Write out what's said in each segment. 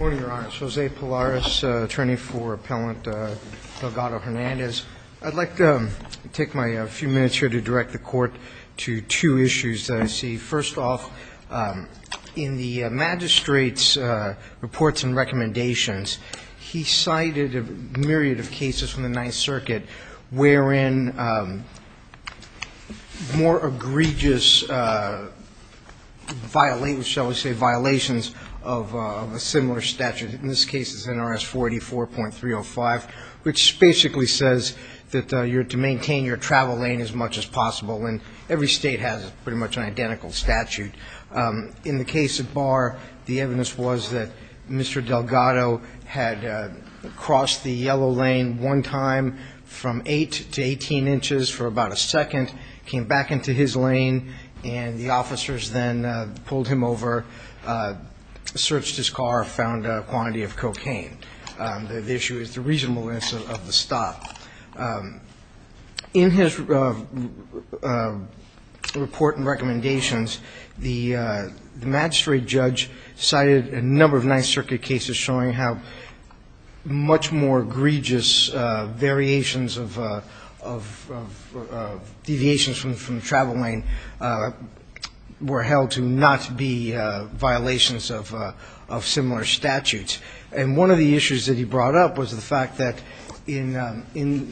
I'd like to take my few minutes here to direct the court to two issues that I see. First off, in the magistrate's reports and recommendations, he cited a myriad of cases from the Ninth Circuit violations of a similar statute. In this case, it's NRS 484.305, which basically says that you're to maintain your travel lane as much as possible, and every state has pretty much an identical statute. In the case of Barr, the evidence was that Mr. Delgado had crossed the yellow lane one time from 8 to 18 inches for about a second, came back into his lane, and the officers then pulled him over, searched his car, found a quantity of cocaine. The issue is the reasonableness of the stop. In his report and recommendations, the magistrate judge cited a number of Ninth Circuit cases showing how much more egregious variations of the deviations from the travel lane were held to not be violations of similar statutes. And one of the issues that he brought up was the fact that in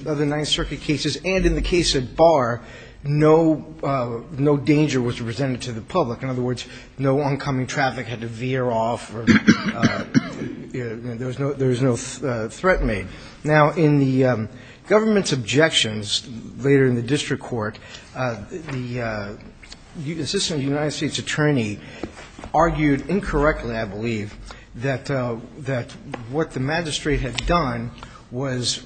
other Ninth Circuit cases and in the case of Barr, no danger was presented to the public. In other words, no oncoming traffic had to veer off or there was no threat made. Now, in the case of Barr, in the government's objections later in the district court, the assistant United States attorney argued incorrectly, I believe, that what the magistrate had done was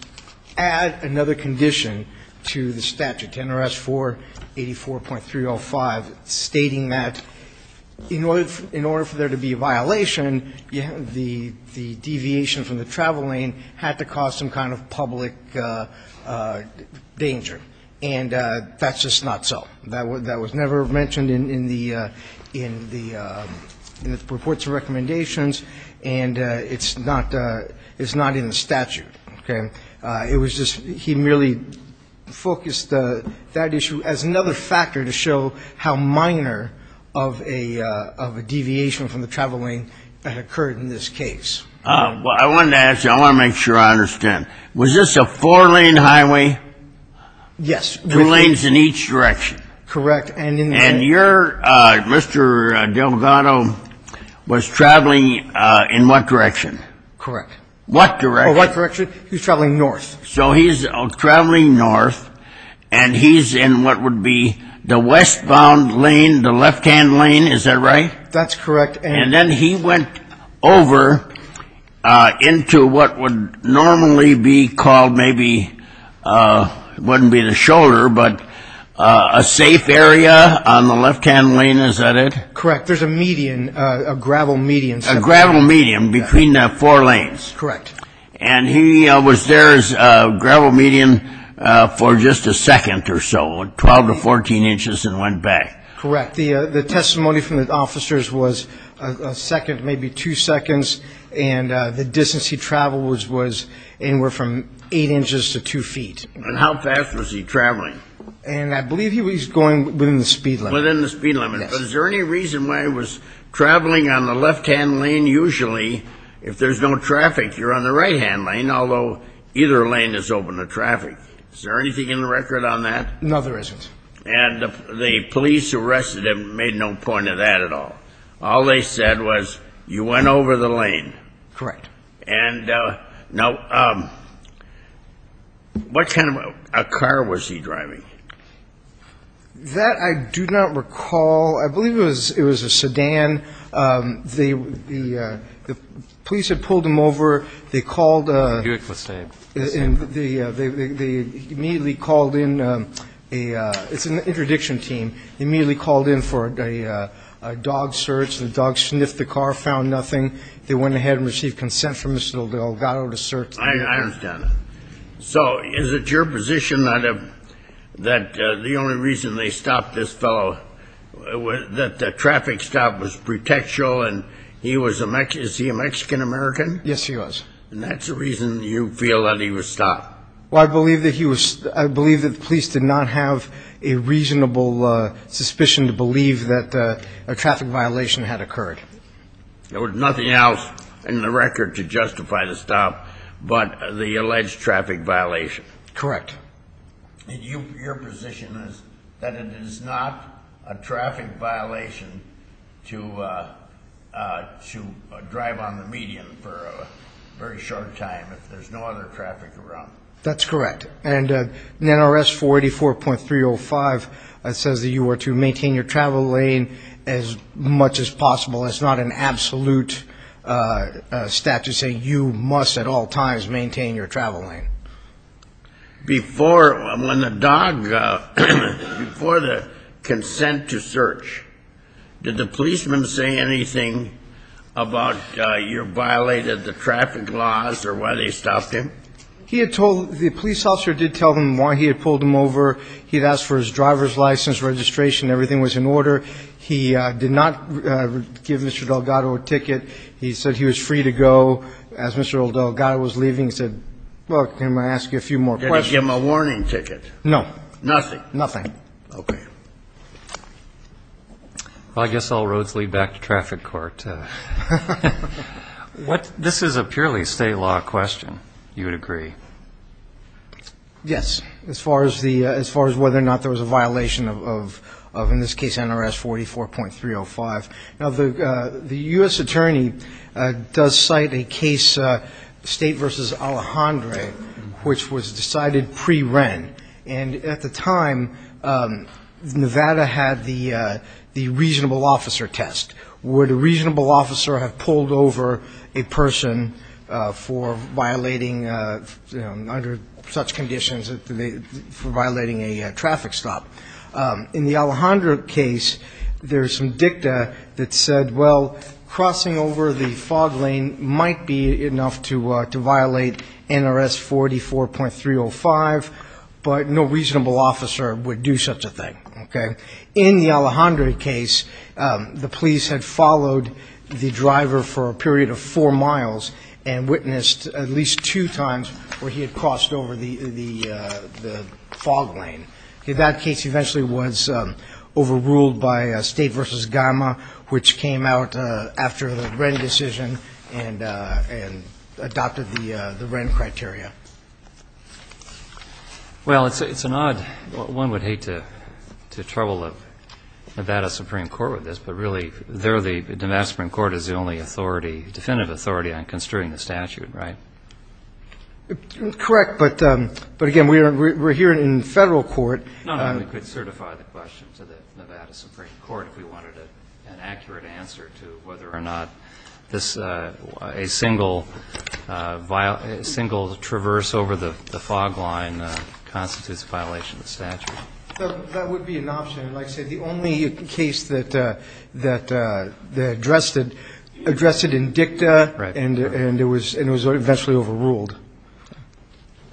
add another condition to the statute, NRS 484.305, stating that in order for there to be a violation, the deviation from the travel lane had to cause some amount of public danger. And that's just not so. That was never mentioned in the reports or recommendations, and it's not in the statute. Okay? It was just he merely focused that issue as another factor to show how minor of a deviation from the travel lane had occurred in this case. I wanted to ask you, I want to make sure I understand. Was this a four-lane highway? Yes. Two lanes in each direction? Correct. And your Mr. Delgado was traveling in what direction? Correct. What direction? He was traveling north. So he's traveling north, and he's in what would be the westbound lane, the left-hand lane, is that right? That's correct. And then he went over into what would normally be called maybe, it wouldn't be the shoulder, but a safe area on the left-hand lane, is that it? Correct. There's a median, a gravel median. A gravel median between the four lanes. Correct. And he was there as a gravel median for just a second or so, 12 to 14 inches, and went back. Correct. The testimony from the officers was a second, maybe two seconds, and the distance he traveled was anywhere from eight inches to two feet. And how fast was he traveling? And I believe he was going within the speed limit. Within the speed limit. Yes. But is there any reason why he was traveling on the left-hand lane? Usually, if there's no traffic, you're on the right-hand lane, although either lane is open to traffic. Is there anything in the record on that? No, there isn't. And the police arrested him, made no point of that at all. All they said was, you went over the lane. Correct. And now, what kind of a car was he driving? That I do not recall. I believe it was a sedan. The police had pulled him over. They called a... Buick Mustang. And they immediately called in a... It's an interdiction team. They immediately called in for a dog search. The dog sniffed the car, found nothing. They went ahead and received consent from Mr. Delgado to search. I understand that. So, is it your position that the only reason they stopped this fellow, that the traffic stop was pretextual, and he was a Mexican... Is he a Mexican-American? Yes, he was. And that's the reason you feel that he was stopped? Well, I believe that he was... I believe that the police did not have a reasonable suspicion to believe that a traffic violation had occurred. There was nothing else in the record to justify the stop but the alleged traffic violation? Correct. And your position is that it is not a traffic violation to drive on the median for a very short time if there's no other traffic around? That's correct. And NRS 484.305 says that you are to maintain your travel lane as much as possible. That's not an absolute statute saying you must at all times maintain your travel lane. Before, when the dog... Before the consent to search, did the policeman say anything about you violated the traffic laws or why they stopped him? He had told... The police officer did tell them why he had pulled him over. He had asked for his driver's license, registration, everything was in order. He did not give Mr. Delgado a ticket. He said he was free to go. As Mr. Delgado was leaving, he said, look, can I ask you a few more questions? Did he give him a warning ticket? No. Nothing? Nothing. Okay. Well, I guess all roads lead back to traffic court. This is a purely state law question, you would agree? Yes, as far as whether or not there was a violation of, in this case, NRS 44.305. Now, the U.S. attorney does cite a case, State v. Alejandre, which was decided pre-Wren. And at the time, Nevada had the reasonable officer test. Would a reasonable officer have pulled over a person for violating, under such conditions, for violating a traffic stop? In the Alejandre case, there's some dicta that said, well, crossing over the fog lane might be enough to violate NRS 44.305, but no reasonable officer would do such a thing. In the Alejandre case, the police had followed the driver for a period of four miles and witnessed at least two times where he had crossed over the fog lane. That case eventually was overruled by State v. Gama, which came out after the Wren decision and adopted the Wren criteria. Well, it's an odd, one would hate to trouble Nevada Supreme Court with this, but really, the Nevada Supreme Court is the only authority, definitive authority on construing the statute, right? Correct, but again, we're here in federal court. Not only could certify the question to the Nevada Supreme Court if we wanted an accurate answer to whether or not a single traverse over the fog line constitutes a violation of the statute. That would be an option. Like I said, the only case that addressed it in dicta and it was eventually overruled.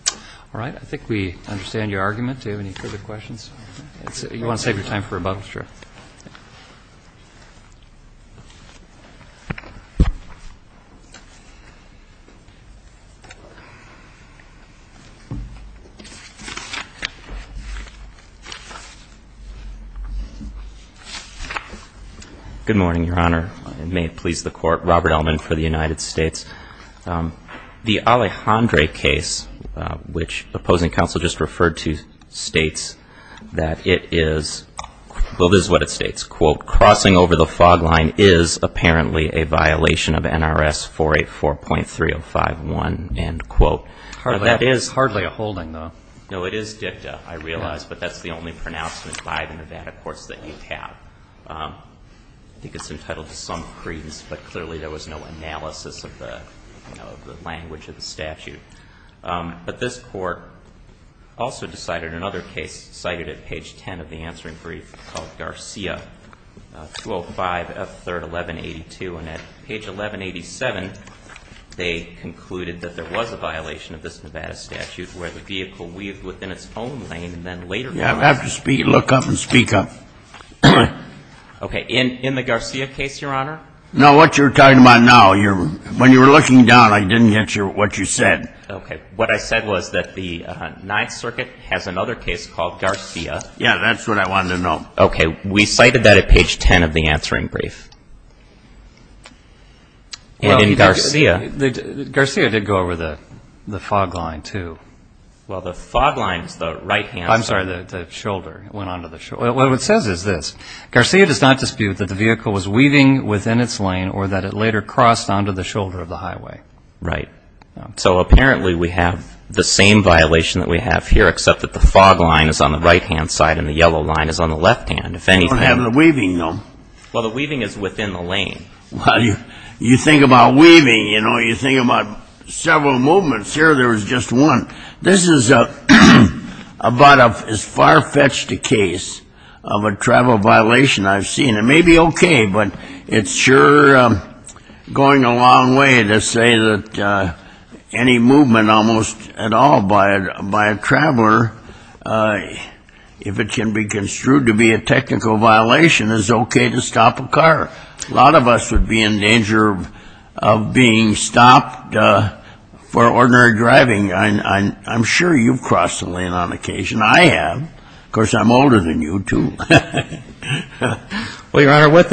All right. I think we understand your argument. Do you have any further questions? You want to save your time for rebuttal? Sure. Good morning, Your Honor. May it please the Court. Robert Ellman for the United States. The Alejandre case, which opposing counsel just referred to, states that it is, well, this is what it states, quote, crossing over the fog line is apparently a violation of NRS 484.3051, end quote. That is hardly a holding, though. No, it is dicta, I realize, but that's the only pronouncement by the Nevada courts that you have. I think it's entitled to some credence, but clearly there was no analysis of the language of the statute. But this Court also decided another case cited at page 10 of the answering brief called Garcia, 205 F. 3rd, 1182. And at page 1187, they concluded that there was a violation of this Nevada statute where the vehicle weaved within its own lane, and then later on... You have to look up and speak up. Okay. In the Garcia case, Your Honor? No, what you're talking about now, when you were looking down, I didn't get what you said. Okay. What I said was that the Ninth Circuit has another case called Garcia. Yeah, that's what I wanted to know. Okay. We cited that at page 10 of the answering brief. And in Garcia... Well, Garcia did go over the fog line, too. Well, the fog line is the right-hand side. I'm sorry, the shoulder. It went onto the shoulder. Well, what it says is this. Garcia does not dispute that the vehicle was weaving within its lane or that it later crossed onto the shoulder of the highway. Right. So apparently we have the same violation that we have here, except that the You don't have the weaving, though. Well, the weaving is within the lane. You think about weaving, you think about several movements. Here, there was just one. This is about as far-fetched a case of a travel violation I've seen. It may be okay, but it's sure going a long way to say that any movement almost at all by a traveler, if it can be a technical violation, is okay to stop a car. A lot of us would be in danger of being stopped for ordinary driving. I'm sure you've crossed the lane on occasion. I have. Of course, I'm older than you, too. Well, Your Honor, what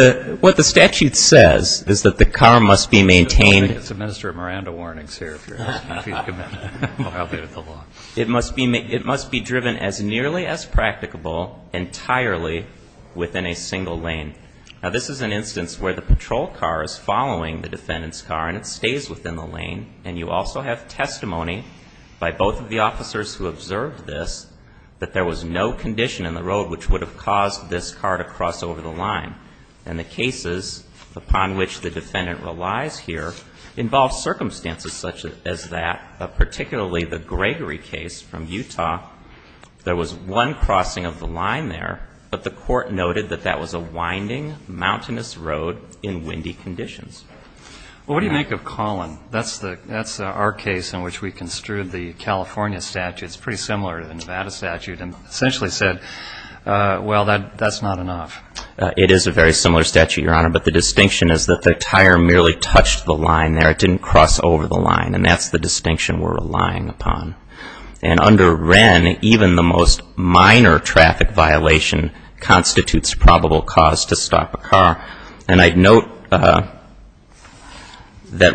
the statute says is that the car must be maintained... It's a Minister of Miranda warnings here, if you're asking, if he's committed to violating the law. It must be driven as nearly as practicable entirely within a single lane. Now, this is an instance where the patrol car is following the defendant's car, and it stays within the lane, and you also have testimony by both of the officers who observed this that there was no condition in the road which would have caused this car to cross over the line. And the cases upon which the defendant relies here involve circumstances such as that, particularly the Gregory case from Utah. There was one crossing of the line there, but the court noted that that was a winding, mountainous road in windy conditions. Well, what do you make of Collin? That's our case in which we construed the California statute. It's pretty similar to the Nevada statute, and essentially said, well, that's not enough. It is a very similar statute, Your Honor, but the distinction is that the tire merely touched the line there. It didn't cross over the line, and that's the distinction we're relying upon. And under Wren, even the most minor traffic violation constitutes probable cause to stop a car, and I'd note that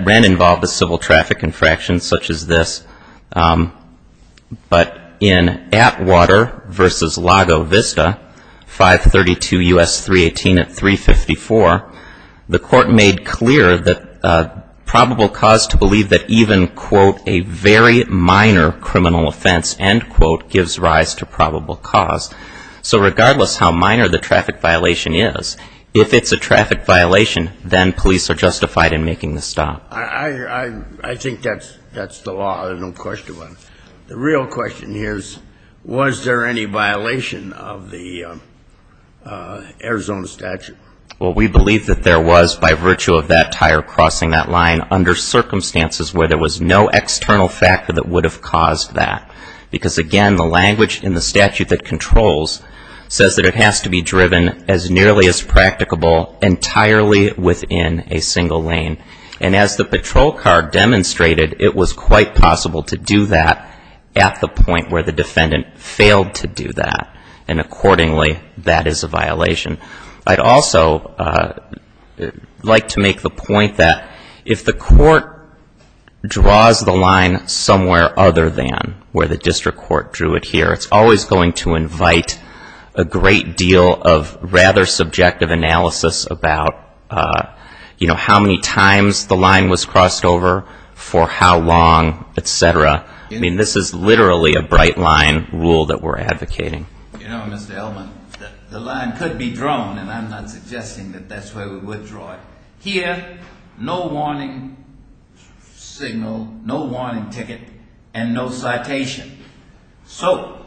Wren involved a civil traffic infraction such as this, but in Atwater v. Lago Vista, 532 U.S. 318 at 354, the court made clear that the probable cause to believe that even, quote, a very minor criminal offense, end quote, gives rise to probable cause. So regardless how minor the traffic violation is, if it's a traffic violation, then police are justified in making the stop. I think that's the law. I have no question about it. The real question here is, was there any violation of the Arizona statute? Well, we believe that there was by virtue of that tire crossing that line under circumstances where there was no external factor that would have caused that, because again, the language in the statute that controls says that it has to be driven as nearly as practicable entirely within a single lane. And as the patrol car demonstrated, it was quite possible to do that at the point where the defendant failed to do that, and accordingly, that is a violation. I'd also like to make the point that if the court draws the line somewhere other than where the district court drew it here, it's always going to invite a great deal of rather subjective analysis about, you know, how many times the line was crossed over, for how long, et cetera. I mean, this is literally a bright line rule that we're advocating. You know, Mr. Elman, the line could be drawn, and I'm not suggesting that that's where we would draw it. Here, no warning signal, no warning ticket, and no citation. So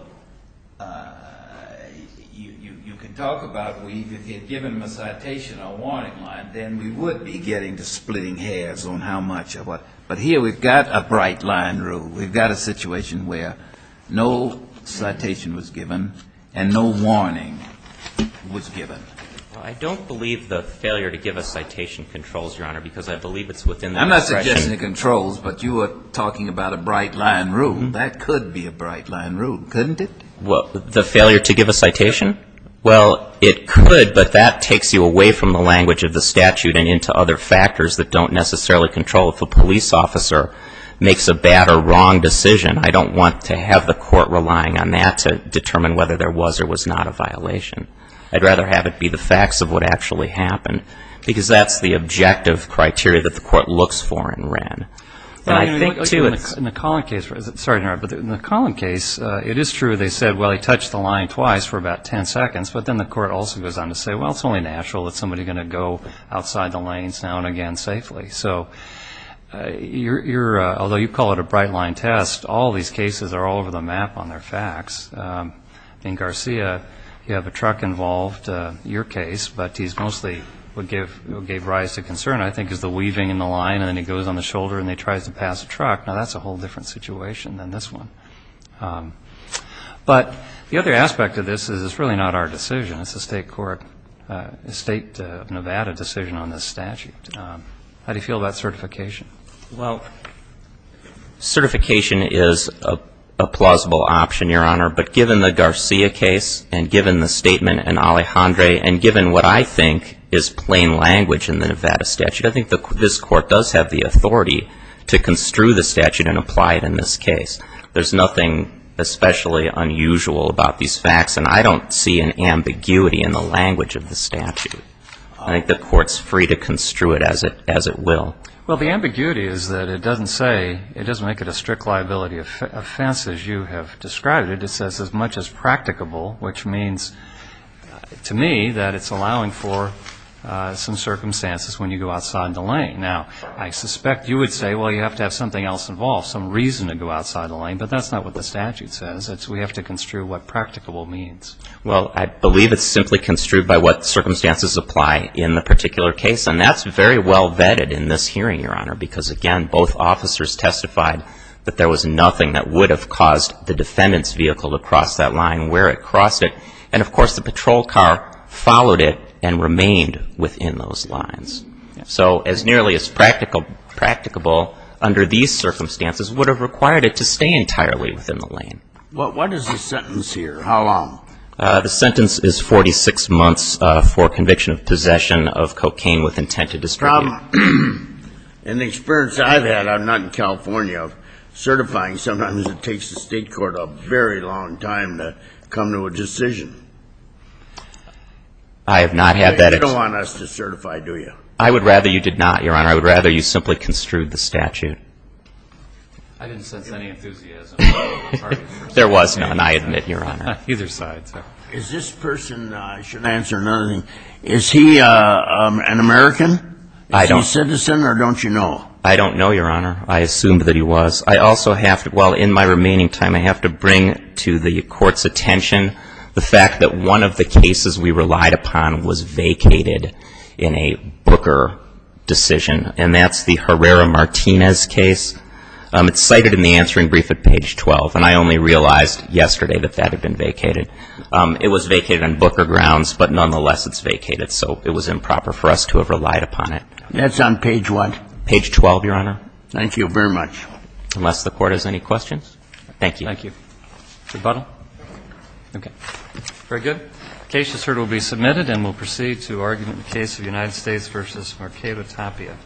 you could talk about if we had given them a citation or a warning line, then we would be getting to splitting hairs on how much or what. But here we've got a bright line rule. We've got a situation where no citation was given, and no warning was given. I don't believe the failure to give a citation controls, Your Honor, because I believe it's within the discretion. I'm not suggesting it controls, but you were talking about a bright line rule. That could be a bright line rule, couldn't it? The failure to give a citation? Well, it could, but that takes you away from the language of the statute and into other factors that don't necessarily control if a police officer makes a bad or wrong decision. I don't want to have the court relying on that to determine whether there was or was not a violation. I'd rather have it be the facts of what actually happened, because that's the objective criteria that the court looks for in Wren. In the Collin case, it is true they said, well, he touched the line twice for about 10 seconds, but then the court also goes on to say, well, it's only natural that somebody is going to go outside the lanes now and again safely. So although you call it a bright line test, all these cases are all over the map on their facts. In Garcia, you have a truck involved, your case, but he's mostly what gave rise to concern, I think, is the weaving in the line, and then he goes on the shoulder, and he tries to pass a truck. Now, that's a whole different situation than this one. But the other aspect of this is it's really not our decision. It's the state court, the state of Nevada decision on this statute. How do you feel about certification? Well, certification is a plausible option, Your Honor, but given the Garcia case, and given the statement in Alejandre, and given what I think is plain language in the Nevada statute, I think this court does have the authority to construe the statute and apply it in this case. There's nothing especially unusual about these facts, and I don't see an ambiguity in the language of the statute. I think the court's free to construe it as it will. Well, the ambiguity is that it doesn't say, it doesn't make it a strict liability offense as you have described it. It says as much as practicable, which means to me that it's allowing for some circumstances when you go outside in the lane. Now, I suspect you would say, well, you have to have something else involved, some reason to go outside the lane, but that's not what the statute says. We have to construe what practicable means. Well, I believe it's simply construed by what circumstances apply in the particular case, and that's very well vetted in this hearing, Your Honor, because, again, both officers testified that there was nothing that would have caused the defendant's vehicle to cross that line where it crossed it. And, of course, the patrol car followed it and remained within those lines. So as nearly as practicable under these circumstances would have required it to stay entirely within the lane. What is the sentence here? How long? The sentence is 46 months for conviction of possession of cocaine with intent to distribute. In the experience I've had, I'm not in California, certifying sometimes it takes the State Court a very long time to come to a decision. I have not had that experience. You don't want us to certify, do you? I would rather you did not, Your Honor. I would rather you simply construed the statute. I didn't sense any enthusiasm. There was none, I admit, Your Honor. Either side, sir. Is this person, I should answer another thing, is he an American? Is he a citizen or don't you know? I don't know, Your Honor. I assumed that he was. I also have to, well, in my remaining time I have to bring to the Court's attention the fact that one of the cases we relied upon was vacated in a Booker decision, and that's the Herrera-Martinez case. It's cited in the answering brief at page 12, and I only realized yesterday that that had been vacated. It was vacated on Booker grounds, but nonetheless it's vacated, so it was improper for us to have relied upon it. That's on page what? Page 12, Your Honor. Thank you very much. Unless the Court has any questions. Thank you. Thank you. Rebuttal? Okay. Very good. The case is heard and will be submitted, and we'll proceed to argument in the case of United States v. Marquetta Tapia.